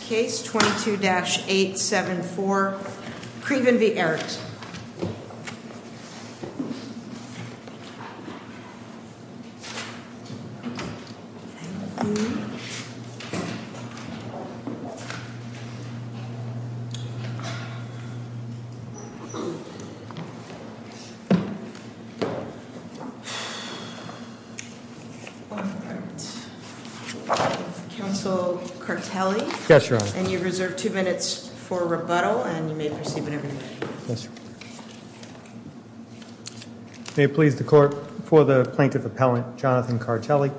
Case 22-874 Craven v. Erickson Case 22-874 Craven v. Erickson May it please the Court, for the Plaintiff Appellant, Jonathan Kartelli.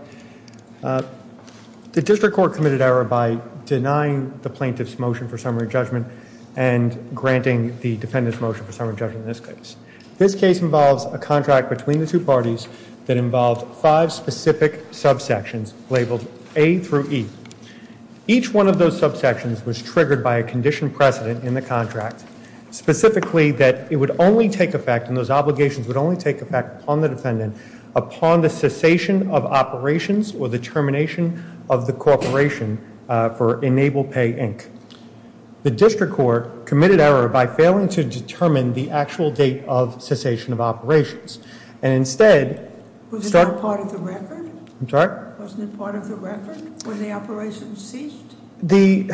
The District Court committed error by denying the Plaintiff's motion for summary judgment and granting the Defendant's motion for summary judgment in this case. This case involves a contract between the two parties that involved five specific subsections labeled A through E. Each one of those subsections was triggered by a conditioned precedent in the contract, specifically that it would only take effect, and those obligations would only take effect upon the Defendant, upon the cessation of operations or the termination of the corporation for Enable Pay, Inc. The District Court committed error by failing to determine the actual date of cessation of operations, and instead... Was it not part of the record? I'm sorry? Wasn't it part of the record when the operations ceased? The...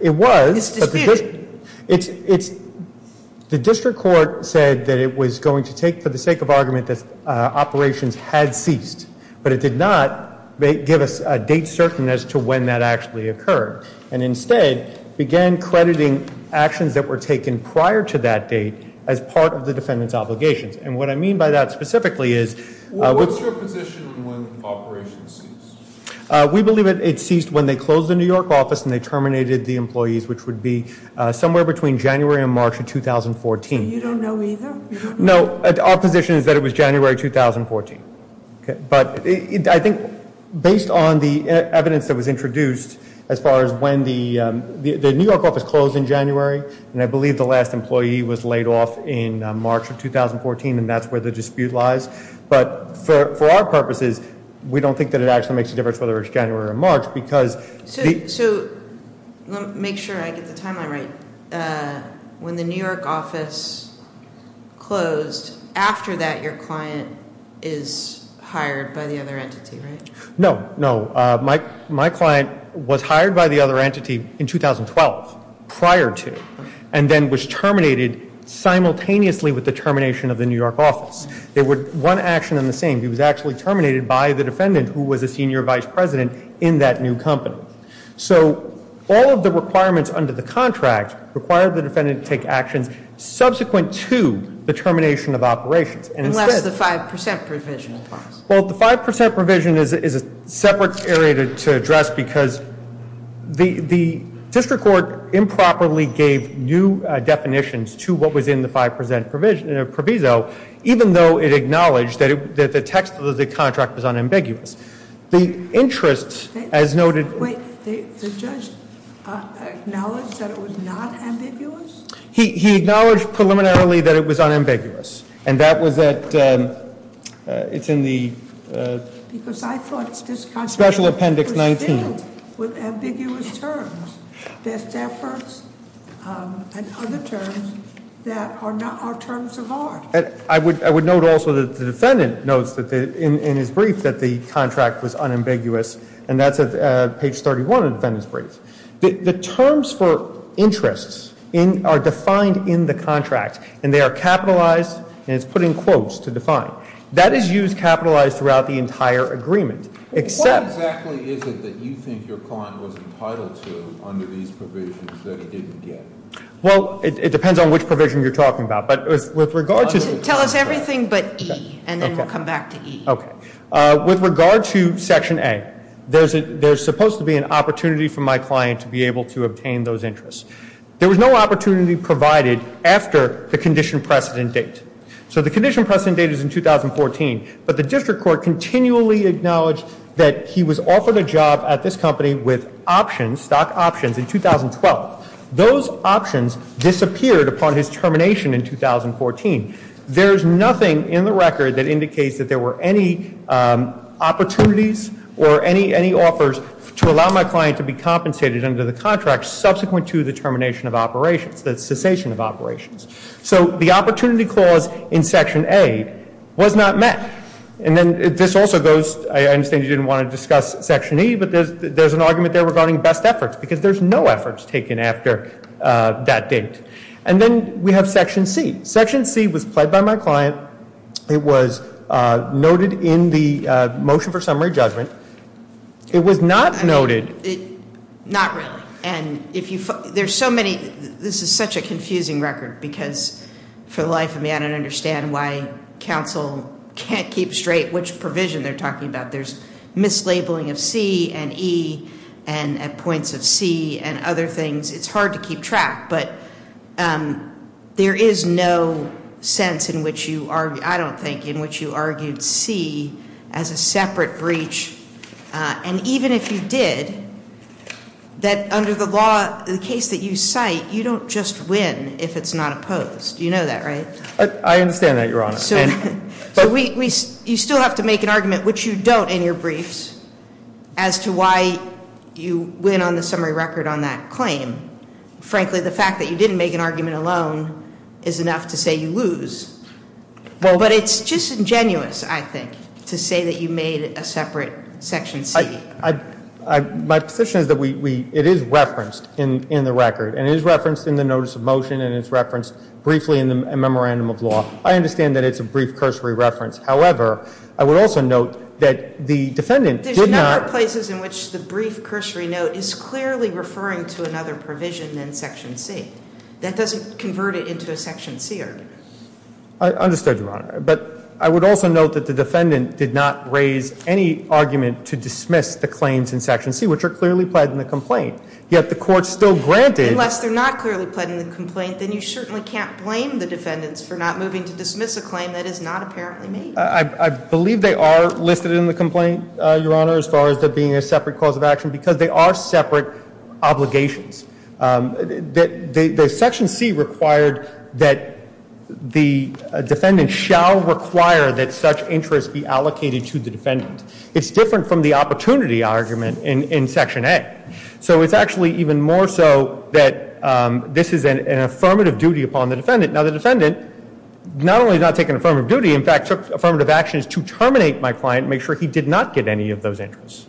it was... It's disputed. It's... the District Court said that it was going to take, for the sake of argument, that operations had ceased, but it did not give us a date certain as to when that actually occurred, and instead began crediting actions that were taken prior to that date as part of the Defendant's obligations. And what I mean by that specifically is... What's your position on when operations ceased? We believe it ceased when they closed the New York office and they terminated the employees, which would be somewhere between January and March of 2014. So you don't know either? No, our position is that it was January 2014. But I think based on the evidence that was introduced as far as when the New York office closed in January, and I believe the last employee was laid off in March of 2014, and that's where the dispute lies. But for our purposes, we don't think that it actually makes a difference whether it's January or March, because... So, let me make sure I get the timeline right. When the New York office closed, after that your client is hired by the other entity, right? No, no. My client was hired by the other entity in 2012, prior to, and then was terminated simultaneously with the termination of the New York office. They were one action and the same. He was actually terminated by the defendant who was a senior vice president in that new company. So all of the requirements under the contract required the defendant to take actions subsequent to the termination of operations. Unless the 5% provision applies. Well, the 5% provision is a separate area to address, because the district court improperly gave new definitions to what was in the 5% provision, even though it acknowledged that the text of the contract was unambiguous. The interest, as noted- Wait, the judge acknowledged that it was not ambiguous? He acknowledged preliminarily that it was unambiguous, and that was at, it's in the- Because I thought this contract- Special appendix 19. With ambiguous terms. Best efforts and other terms that are terms of art. I would note also that the defendant notes in his brief that the contract was unambiguous, and that's at page 31 of the defendant's brief. The terms for interests are defined in the contract, and they are capitalized, and it's put in quotes to define. That is used capitalized throughout the entire agreement, except- What do you think your client was entitled to under these provisions that he didn't get? Well, it depends on which provision you're talking about. But with regard to- Tell us everything but E, and then we'll come back to E. Okay. With regard to Section A, there's supposed to be an opportunity for my client to be able to obtain those interests. There was no opportunity provided after the condition precedent date. So the condition precedent date is in 2014, but the district court continually acknowledged that he was offered a job at this company with options, stock options, in 2012. Those options disappeared upon his termination in 2014. There is nothing in the record that indicates that there were any opportunities or any offers to allow my client to be compensated under the contract subsequent to the termination of operations, the cessation of operations. So the opportunity clause in Section A was not met. And then this also goes- I understand you didn't want to discuss Section E, but there's an argument there regarding best efforts, because there's no efforts taken after that date. And then we have Section C. Section C was pled by my client. It was noted in the motion for summary judgment. It was not noted- Not really. There's so many- this is such a confusing record, because for the life of me, I don't understand why counsel can't keep straight which provision they're talking about. There's mislabeling of C and E and points of C and other things. It's hard to keep track, but there is no sense in which you- I don't think- in which you argued C as a separate breach. And even if you did, that under the law, the case that you cite, you don't just win if it's not opposed. You know that, right? I understand that, Your Honor. So you still have to make an argument, which you don't in your briefs, as to why you win on the summary record on that claim. Frankly, the fact that you didn't make an argument alone is enough to say you lose. But it's just ingenuous, I think, to say that you made a separate section C. My position is that it is referenced in the record, and it is referenced in the notice of motion, and it's referenced briefly in the memorandum of law. I understand that it's a brief cursory reference. However, I would also note that the defendant did not- There's a number of places in which the brief cursory note is clearly referring to another provision than section C. That doesn't convert it into a section C argument. I understood, Your Honor. But I would also note that the defendant did not raise any argument to dismiss the claims in section C, which are clearly pled in the complaint. Yet the court still granted- Unless they're not clearly pled in the complaint, then you certainly can't blame the defendants for not moving to dismiss a claim that is not apparently made. I believe they are listed in the complaint, Your Honor, as far as being a separate cause of action, because they are separate obligations. The section C required that the defendant shall require that such interest be allocated to the defendant. It's different from the opportunity argument in section A. So it's actually even more so that this is an affirmative duty upon the defendant. Now, the defendant not only has not taken affirmative duty, in fact, took affirmative actions to terminate my client and make sure he did not get any of those interests.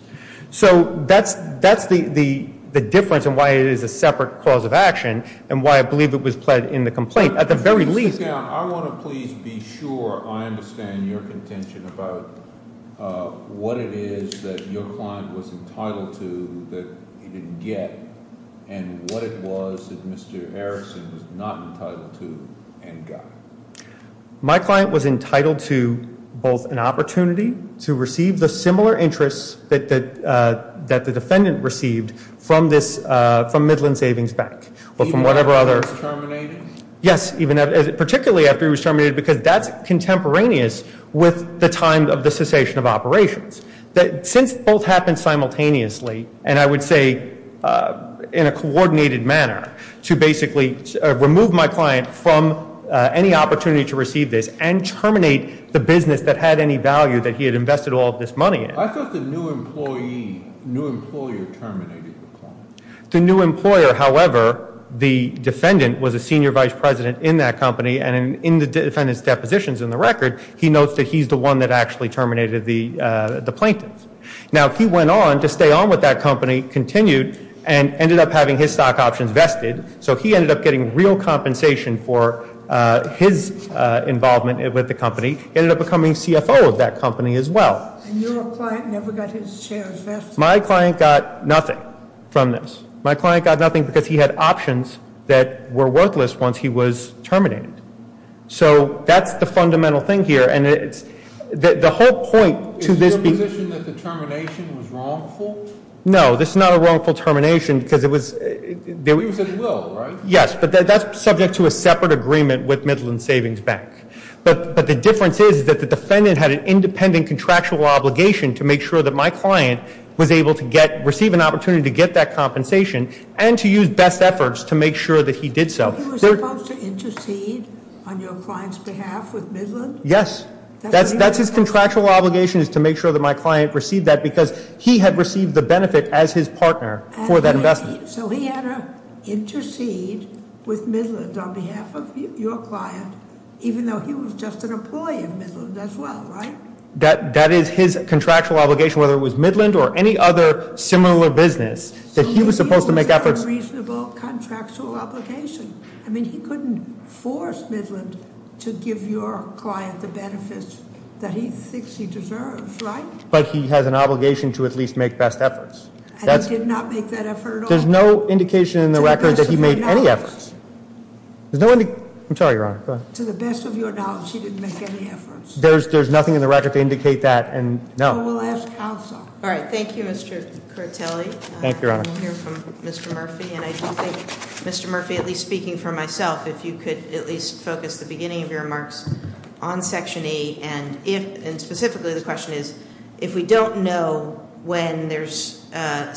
So that's the difference in why it is a separate cause of action and why I believe it was pled in the complaint. At the very least- Mr. Count, I want to please be sure I understand your contention about what it is that your client was entitled to that he didn't get and what it was that Mr. Harrison was not entitled to and got. My client was entitled to both an opportunity to receive the similar interests that the defendant received from Midland Savings Bank or from whatever other- Even after he was terminated? Yes. Particularly after he was terminated, because that's contemporaneous with the time of the cessation of operations. Since both happened simultaneously, and I would say in a coordinated manner, to basically remove my client from any opportunity to receive this and terminate the business that had any value that he had invested all of this money in- I thought the new employee, new employer terminated the client. Now, he went on to stay on with that company, continued, and ended up having his stock options vested. So he ended up getting real compensation for his involvement with the company. He ended up becoming CFO of that company as well. And your client never got his shares vested? My client got nothing from this. My client got nothing because he had options that were worthless once he was terminated. So that's the fundamental thing here. And the whole point to this- Is it your position that the termination was wrongful? No, this is not a wrongful termination because it was- You said it will, right? Yes, but that's subject to a separate agreement with Midland Savings Bank. But the difference is that the defendant had an independent contractual obligation to make sure that my client was able to receive an opportunity to get that compensation and to use best efforts to make sure that he did so. So he was supposed to intercede on your client's behalf with Midland? Yes. That's his contractual obligation is to make sure that my client received that because he had received the benefit as his partner for that investment. So he had to intercede with Midland on behalf of your client even though he was just an employee of Midland as well, right? That is his contractual obligation whether it was Midland or any other similar business that he was supposed to make efforts- It's a reasonable contractual obligation. I mean, he couldn't force Midland to give your client the benefits that he thinks he deserves, right? But he has an obligation to at least make best efforts. And he did not make that effort at all. There's no indication in the record that he made any efforts. To the best of your knowledge. There's no- I'm sorry, Your Honor, go ahead. To the best of your knowledge, he didn't make any efforts. There's nothing in the record to indicate that, and no. Well, we'll ask counsel. All right, thank you, Mr. Kurtelli. Thank you, Your Honor. We'll hear from Mr. Murphy. And I do think, Mr. Murphy, at least speaking for myself, if you could at least focus the beginning of your remarks on Section 8. And specifically, the question is, if we don't know when there's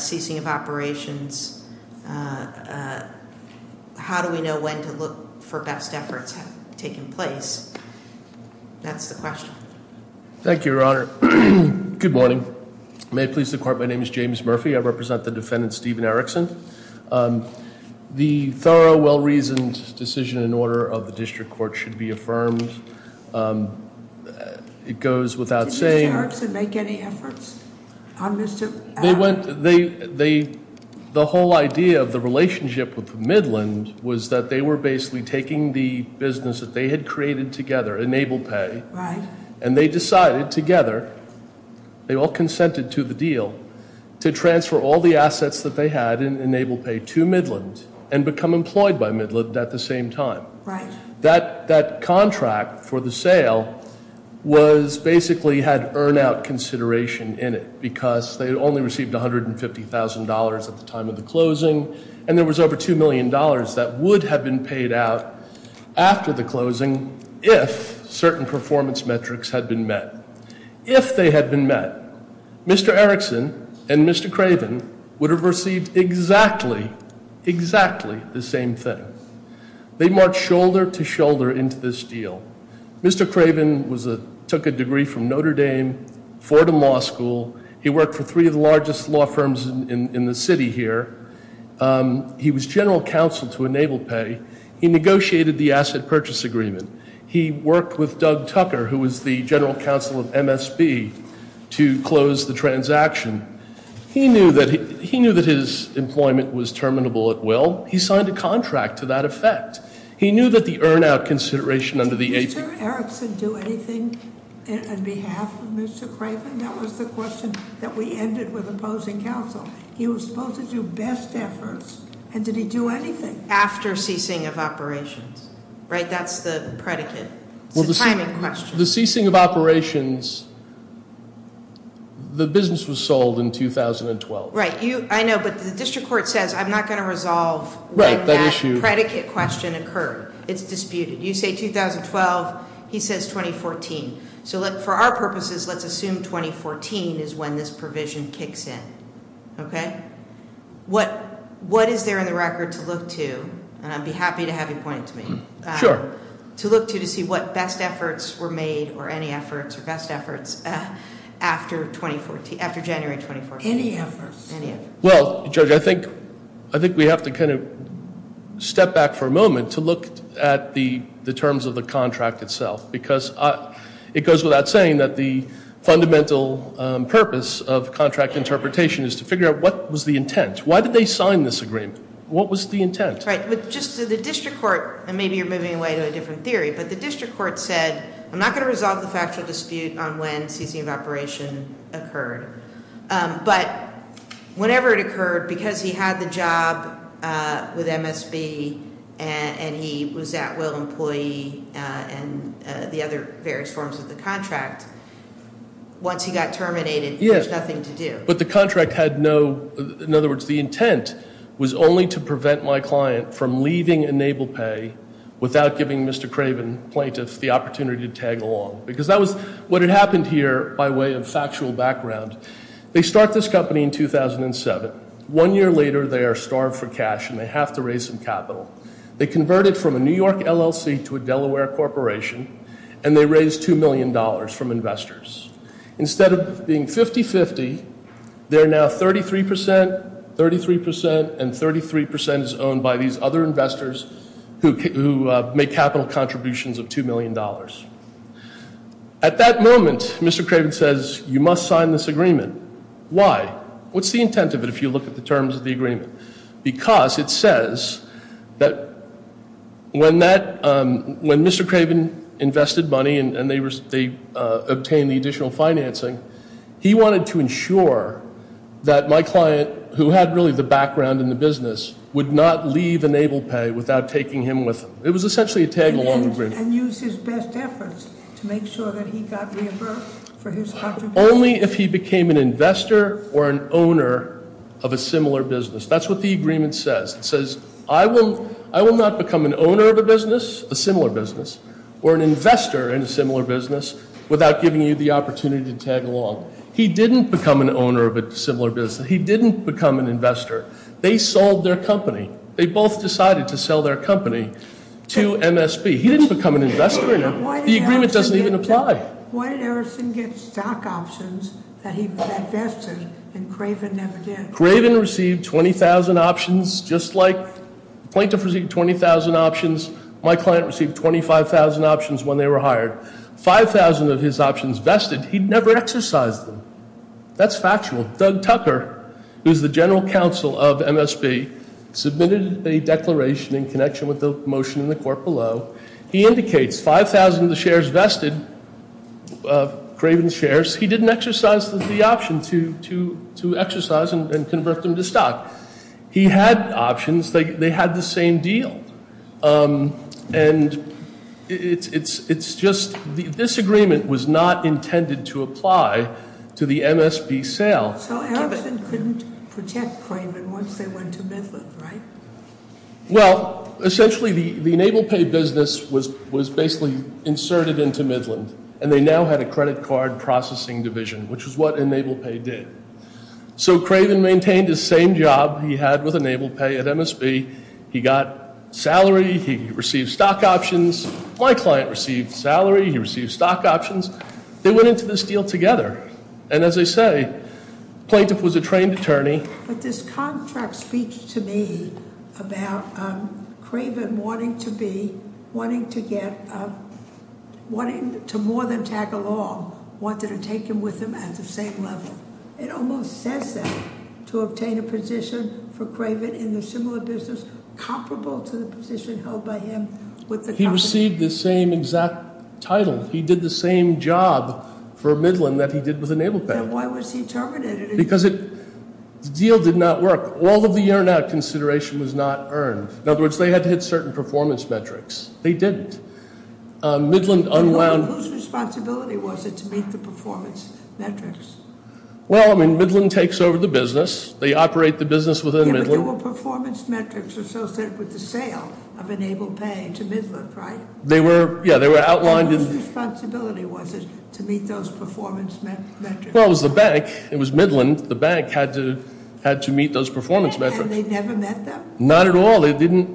ceasing of operations, how do we know when to look for best efforts taking place? That's the question. Thank you, Your Honor. Good morning. May it please the Court, my name is James Murphy. I represent the defendant, Stephen Erickson. The thorough, well-reasoned decision and order of the district court should be affirmed. It goes without saying- Did Mr. Erickson make any efforts on Mr. Allen? The whole idea of the relationship with Midland was that they were basically taking the business that they had created together, EnablePay, and they decided together, they all consented to the deal, to transfer all the assets that they had in EnablePay to Midland and become employed by Midland at the same time. That contract for the sale basically had earn-out consideration in it, because they had only received $150,000 at the time of the closing, and there was over $2 million that would have been paid out after the closing if certain performance metrics had been met. If they had been met, Mr. Erickson and Mr. Craven would have received exactly, exactly the same thing. They marched shoulder to shoulder into this deal. Mr. Craven took a degree from Notre Dame Fordham Law School. He worked for three of the largest law firms in the city here. He was general counsel to EnablePay. He negotiated the asset purchase agreement. He worked with Doug Tucker, who was the general counsel of MSB, to close the transaction. He knew that his employment was terminable at will. He signed a contract to that effect. He knew that the earn-out consideration under the AP- Did Mr. Erickson do anything on behalf of Mr. Craven? That was the question that we ended with opposing counsel. He was supposed to do best efforts, and did he do anything? After ceasing of operations, right? That's the predicate. It's a timing question. The ceasing of operations, the business was sold in 2012. Right. I know, but the district court says, I'm not going to resolve when that predicate question occurred. It's disputed. You say 2012. He says 2014. So, for our purposes, let's assume 2014 is when this provision kicks in. Okay? What is there in the record to look to, and I'd be happy to have you point it to me- Sure. To look to to see what best efforts were made, or any efforts, or best efforts, after January 2014? Any efforts. Any efforts. Well, Judge, I think we have to kind of step back for a moment to look at the terms of the contract itself, because it goes without saying that the fundamental purpose of contract interpretation is to figure out what was the intent. Why did they sign this agreement? What was the intent? Right. Just to the district court, and maybe you're moving away to a different theory, but the district court said, I'm not going to resolve the factual dispute on when ceasing of operation occurred. But whenever it occurred, because he had the job with MSB, and he was at-will employee, and the other various forms of the contract, once he got terminated, there was nothing to do. But the contract had no, in other words, the intent was only to prevent my client from leaving EnablePay without giving Mr. Craven, plaintiff, the opportunity to tag along. Because that was what had happened here by way of factual background. They start this company in 2007. One year later, they are starved for cash, and they have to raise some capital. They convert it from a New York LLC to a Delaware corporation, and they raise $2 million from investors. Instead of being 50-50, they're now 33%, 33%, and 33% is owned by these other investors who make capital contributions of $2 million. At that moment, Mr. Craven says, you must sign this agreement. Why? What's the intent of it if you look at the terms of the agreement? Because it says that when Mr. Craven invested money and they obtained the additional financing, he wanted to ensure that my client, who had really the background in the business, would not leave EnablePay without taking him with them. It was essentially a tag-along agreement. And use his best efforts to make sure that he got reimbursed for his contributions? Only if he became an investor or an owner of a similar business. That's what the agreement says. It says, I will not become an owner of a business, a similar business, or an investor in a similar business without giving you the opportunity to tag along. He didn't become an owner of a similar business. He didn't become an investor. They sold their company. They both decided to sell their company to MSB. He didn't become an investor. The agreement doesn't even apply. Why did Erickson get stock options that he invested and Craven never did? Craven received 20,000 options just like Plaintiff received 20,000 options. My client received 25,000 options when they were hired. 5,000 of his options vested, he never exercised them. That's factual. Doug Tucker, who's the general counsel of MSB, submitted a declaration in connection with the motion in the court below. He indicates 5,000 of the shares vested, Craven's shares, he didn't exercise the option to exercise and convert them to stock. He had options. They had the same deal. And it's just, this agreement was not intended to apply to the MSB sale. So Erickson couldn't protect Craven once they went to Midland, right? Well, essentially the EnablePay business was basically inserted into Midland, and they now had a credit card processing division, which is what EnablePay did. So Craven maintained his same job he had with EnablePay at MSB. He got salary. He received stock options. My client received salary. He received stock options. They went into this deal together. And as I say, Plaintiff was a trained attorney. But this contract speaks to me about Craven wanting to be, wanting to more than tag along, wanting to take him with him at the same level. It almost says that, to obtain a position for Craven in a similar business, comparable to the position held by him with the company. He received the same exact title. He did the same job for Midland that he did with EnablePay. Then why was he terminated? Because it, the deal did not work. All of the year-end out consideration was not earned. In other words, they had to hit certain performance metrics. They didn't. Midland unwound. Whose responsibility was it to meet the performance metrics? Well, I mean, Midland takes over the business. They operate the business within Midland. Yeah, but there were performance metrics associated with the sale of EnablePay to Midland, right? They were, yeah, they were outlined in. Whose responsibility was it to meet those performance metrics? Well, it was the bank. It was Midland. The bank had to meet those performance metrics. And they never met them? Not at all. They didn't.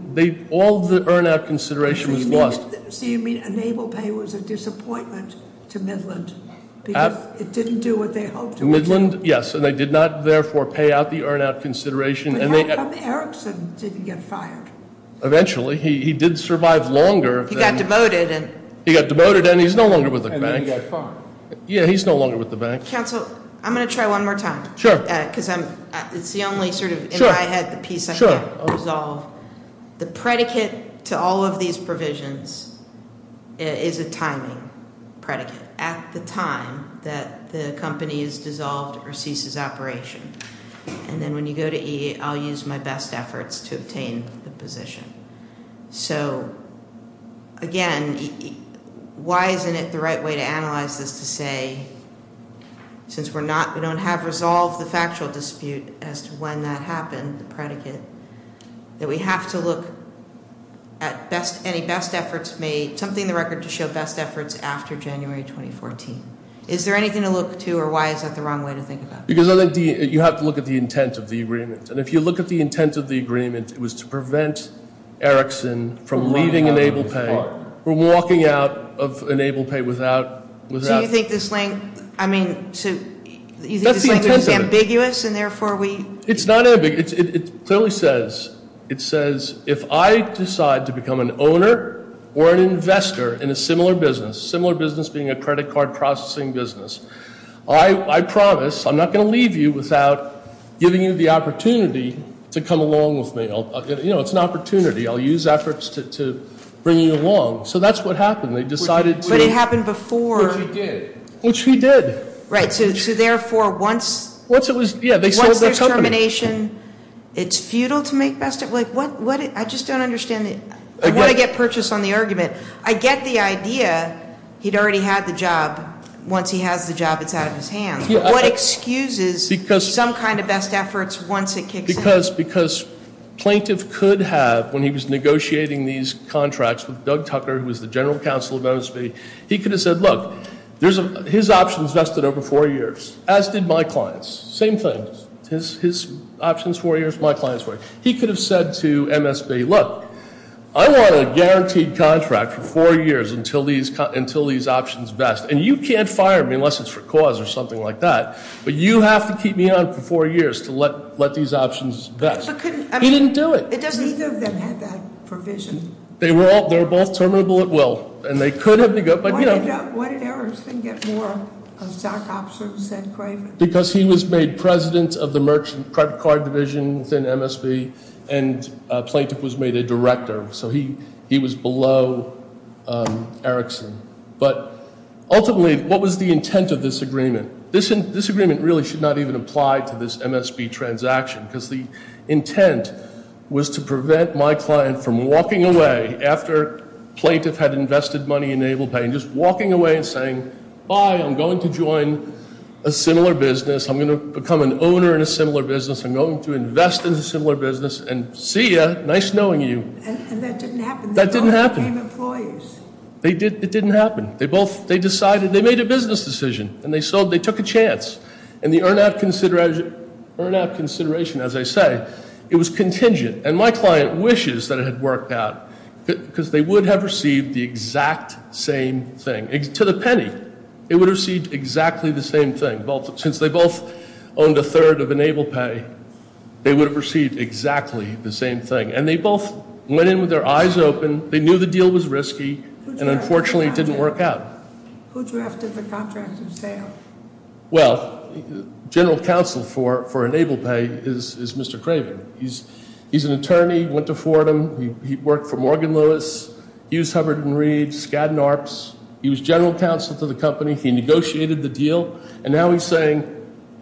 All the earn-out consideration was lost. So you mean EnablePay was a disappointment to Midland because it didn't do what they hoped it would do? Midland, yes. And they did not, therefore, pay out the earn-out consideration. How come Erickson didn't get fired? Eventually. He did survive longer. He got demoted. He got demoted, and he's no longer with the bank. And then he got fired. Yeah, he's no longer with the bank. Counsel, I'm going to try one more time. Sure. Because it's the only, sort of, in my head, the piece I can't resolve. The predicate to all of these provisions is a timing predicate. At the time that the company is dissolved or ceases operation. And then when you go to E, I'll use my best efforts to obtain the position. So, again, why isn't it the right way to analyze this to say, since we don't have resolved the factual dispute as to when that happened, the predicate, that we have to look at any best efforts made, something in the record to show best efforts after January 2014. Is there anything to look to, or why is that the wrong way to think about it? Because you have to look at the intent of the agreement. And if you look at the intent of the agreement, it was to prevent Erickson from leaving EnablePay, from walking out of EnablePay without- So you think this link, I mean- That's the intent of it. You think this link is ambiguous, and therefore we- It's not ambiguous. It clearly says, it says, if I decide to become an owner or an investor in a similar business, similar business being a credit card processing business, I promise I'm not going to leave you without giving you the opportunity to come along with me. You know, it's an opportunity. I'll use efforts to bring you along. So that's what happened. They decided to- But it happened before- Which he did. Which he did. Right. So, therefore, once- Once it was- Yeah, they sold their company. Once there's termination, it's futile to make best- Like, what- I just don't understand the- Again- I want to get purchase on the argument. I get the idea he'd already had the job. Once he has the job, it's out of his hands. What excuses- Because- Some kind of best efforts once it kicks in? Because plaintiff could have, when he was negotiating these contracts with Doug Tucker, who was the general counsel of MSB, he could have said, look, his options vested over four years, as did my clients. Same thing. His options four years, my clients four years. He could have said to MSB, look, I want a guaranteed contract for four years until these options vest. And you can't fire me unless it's for cause or something like that. But you have to keep me on for four years to let these options vest. But couldn't- He didn't do it. It doesn't- Neither of them had that provision. They were all- They were both terminable at will. And they could have- Why did Erickson get more stock options than Craven? Because he was made president of the Merchant Credit Card Division within MSB, and plaintiff was made a director. So he was below Erickson. But ultimately, what was the intent of this agreement? This agreement really should not even apply to this MSB transaction, because the intent was to prevent my client from walking away after plaintiff had invested money in AblePay, and just walking away and saying, bye, I'm going to join a similar business. I'm going to become an owner in a similar business. I'm going to invest in a similar business. And see you. Nice knowing you. And that didn't happen. That didn't happen. They both became employees. It didn't happen. They both- They decided- They made a business decision. And they sold. They took a chance. And the earn-out consideration, as I say, it was contingent. And my client wishes that it had worked out, because they would have received the exact same thing. To the penny, it would have received exactly the same thing. Since they both owned a third of EnablePay, they would have received exactly the same thing. And they both went in with their eyes open. They knew the deal was risky. And unfortunately, it didn't work out. Who drafted the contract of sale? Well, general counsel for EnablePay is Mr. Craven. He's an attorney. Went to Fordham. He worked for Morgan Lewis. He was Hubbard & Reed, Skadden Arps. He was general counsel to the company. He negotiated the deal. And now he's saying,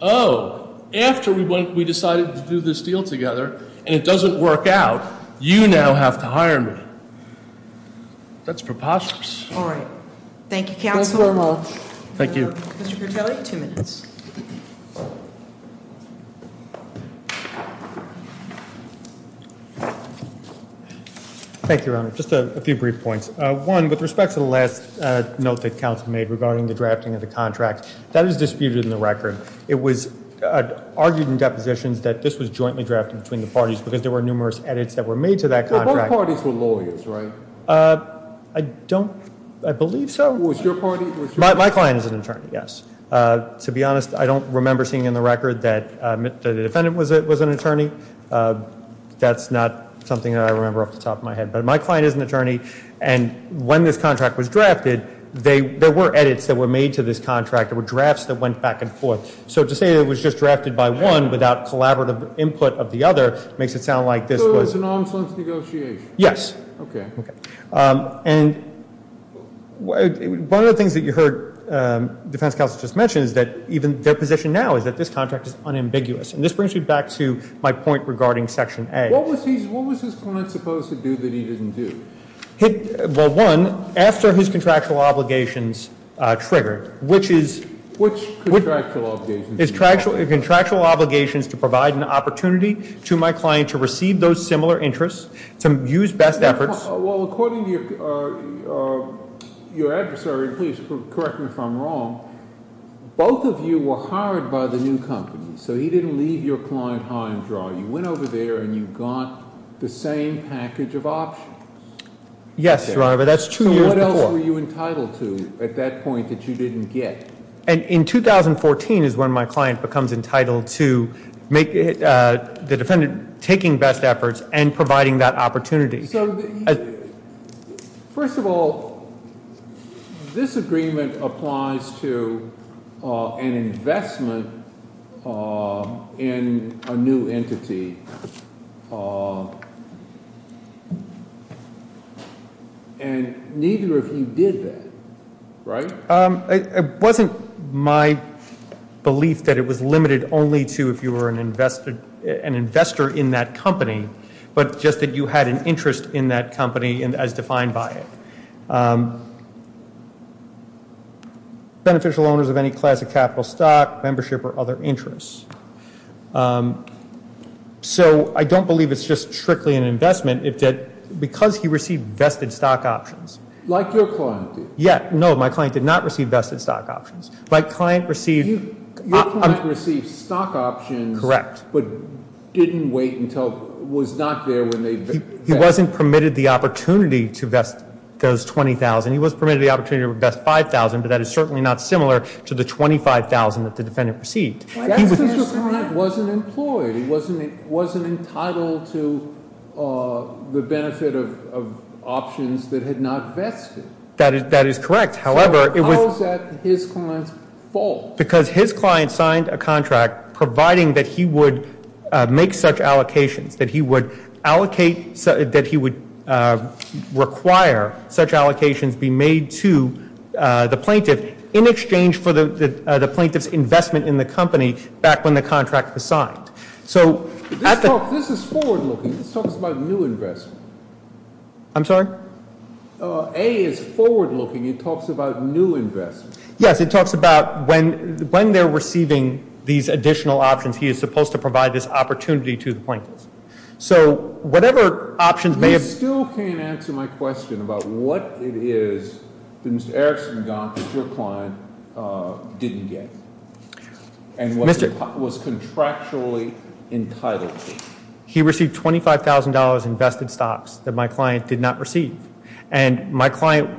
oh, after we decided to do this deal together, and it doesn't work out, you now have to hire me. That's preposterous. All right. Thank you, counsel. Thank you very much. Thank you. Mr. Crutelli, two minutes. Thank you, Your Honor. Just a few brief points. One, with respect to the last note that counsel made regarding the drafting of the contract, that is disputed in the record. It was argued in depositions that this was jointly drafted between the parties because there were numerous edits that were made to that contract. Both parties were lawyers, right? I don't ‑‑ I believe so. Was your party? My client is an attorney, yes. To be honest, I don't remember seeing in the record that the defendant was an attorney. That's not something that I remember off the top of my head. But my client is an attorney, and when this contract was drafted, there were edits that were made to this contract. There were drafts that went back and forth. So to say it was just drafted by one without collaborative input of the other makes it sound like this was ‑‑ So it was an arm's length negotiation. Yes. Okay. And one of the things that you heard defense counsel just mention is that even their position now is that this contract is unambiguous. And this brings me back to my point regarding section A. What was his client supposed to do that he didn't do? Well, one, after his contractual obligations triggered, which is ‑‑ Which contractual obligations? Contractual obligations to provide an opportunity to my client to receive those similar interests, to use best efforts. Well, according to your adversary, and please correct me if I'm wrong, both of you were hired by the new company. So he didn't leave your client high and dry. You went over there and you got the same package of options. Yes, Your Honor, but that's two years before. So what else were you entitled to at that point that you didn't get? And in 2014 is when my client becomes entitled to the defendant taking best efforts and providing that opportunity. So first of all, this agreement applies to an investment in a new entity. And neither of you did that, right? It wasn't my belief that it was limited only to if you were an investor in that company, but just that you had an interest in that company as defined by it. Beneficial owners of any class of capital stock, membership, or other interests. So I don't believe it's just strictly an investment because he received vested stock options. Like your client did. Yeah, no, my client did not receive vested stock options. My client received ‑‑ Your client received stock options. Correct. But didn't wait until, was not there when they vested. He wasn't permitted the opportunity to vest those 20,000. He was permitted the opportunity to vest 5,000, but that is certainly not similar to the 25,000 that the defendant received. That's because your client wasn't employed. He wasn't entitled to the benefit of options that had not vested. That is correct. However, it was ‑‑ So how is that his client's fault? Because his client signed a contract providing that he would make such allocations, that he would allocate, that he would require such allocations be made to the plaintiff in exchange for the plaintiff's investment in the company back when the contract was signed. This is forward looking. This talks about new investment. I'm sorry? A is forward looking. It talks about new investment. Yes, it talks about when they're receiving these additional options, he is supposed to provide this opportunity to the plaintiff. So whatever options may have ‑‑ You still can't answer my question about what it is that Mr. Erickson got that your client didn't get. And was contractually entitled to. He received $25,000 in vested stocks that my client did not receive. And my client,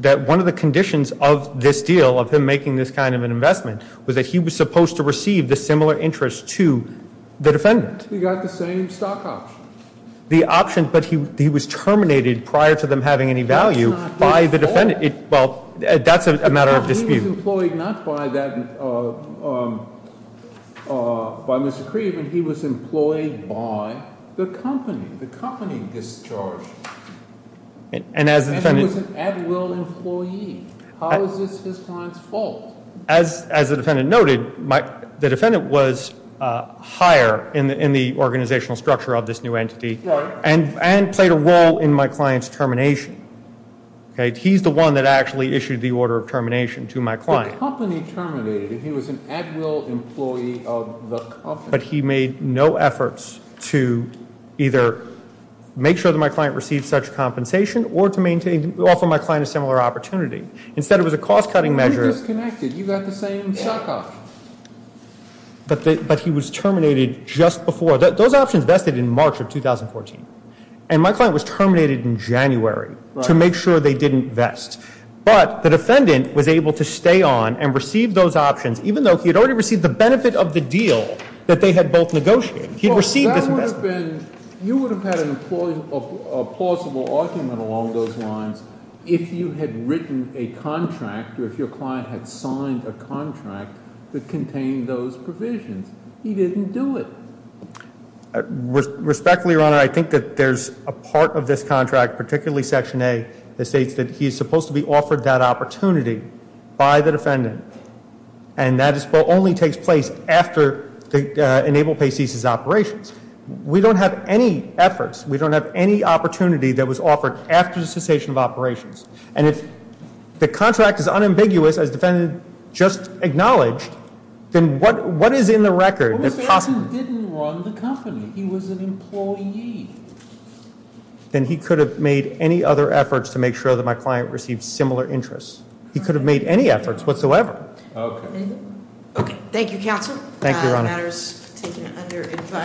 that one of the conditions of this deal, of him making this kind of an investment, was that he was supposed to receive the similar interest to the defendant. He got the same stock option. The option, but he was terminated prior to them having any value by the defendant. Well, that's a matter of dispute. He was employed not by Mr. Kreeve, but he was employed by the company. The company discharged him. And he was an Atwill employee. How is this his client's fault? As the defendant noted, the defendant was higher in the organizational structure of this new entity and played a role in my client's termination. He's the one that actually issued the order of termination to my client. The company terminated him. He was an Atwill employee of the company. But he made no efforts to either make sure that my client received such compensation or to offer my client a similar opportunity. Instead, it was a cost‑cutting measure. You got the same stock option. But he was terminated just before. Those options vested in March of 2014. And my client was terminated in January to make sure they didn't vest. But the defendant was able to stay on and receive those options, even though he had already received the benefit of the deal that they had both negotiated. He had received this investment. You would have had a plausible argument along those lines if you had written a contract or if your client had signed a contract that contained those provisions. He didn't do it. Respectfully, Your Honor, I think that there's a part of this contract, particularly Section A, that states that he's supposed to be offered that opportunity by the defendant. And that only takes place after the enabled pay ceases operations. We don't have any efforts. We don't have any opportunity that was offered after the cessation of operations. And if the contract is unambiguous, as the defendant just acknowledged, then what is in the record? What if he didn't run the company? He was an employee. Then he could have made any other efforts to make sure that my client received similar interests. He could have made any efforts whatsoever. Okay. Thank you, Counsel. Thank you, Your Honor.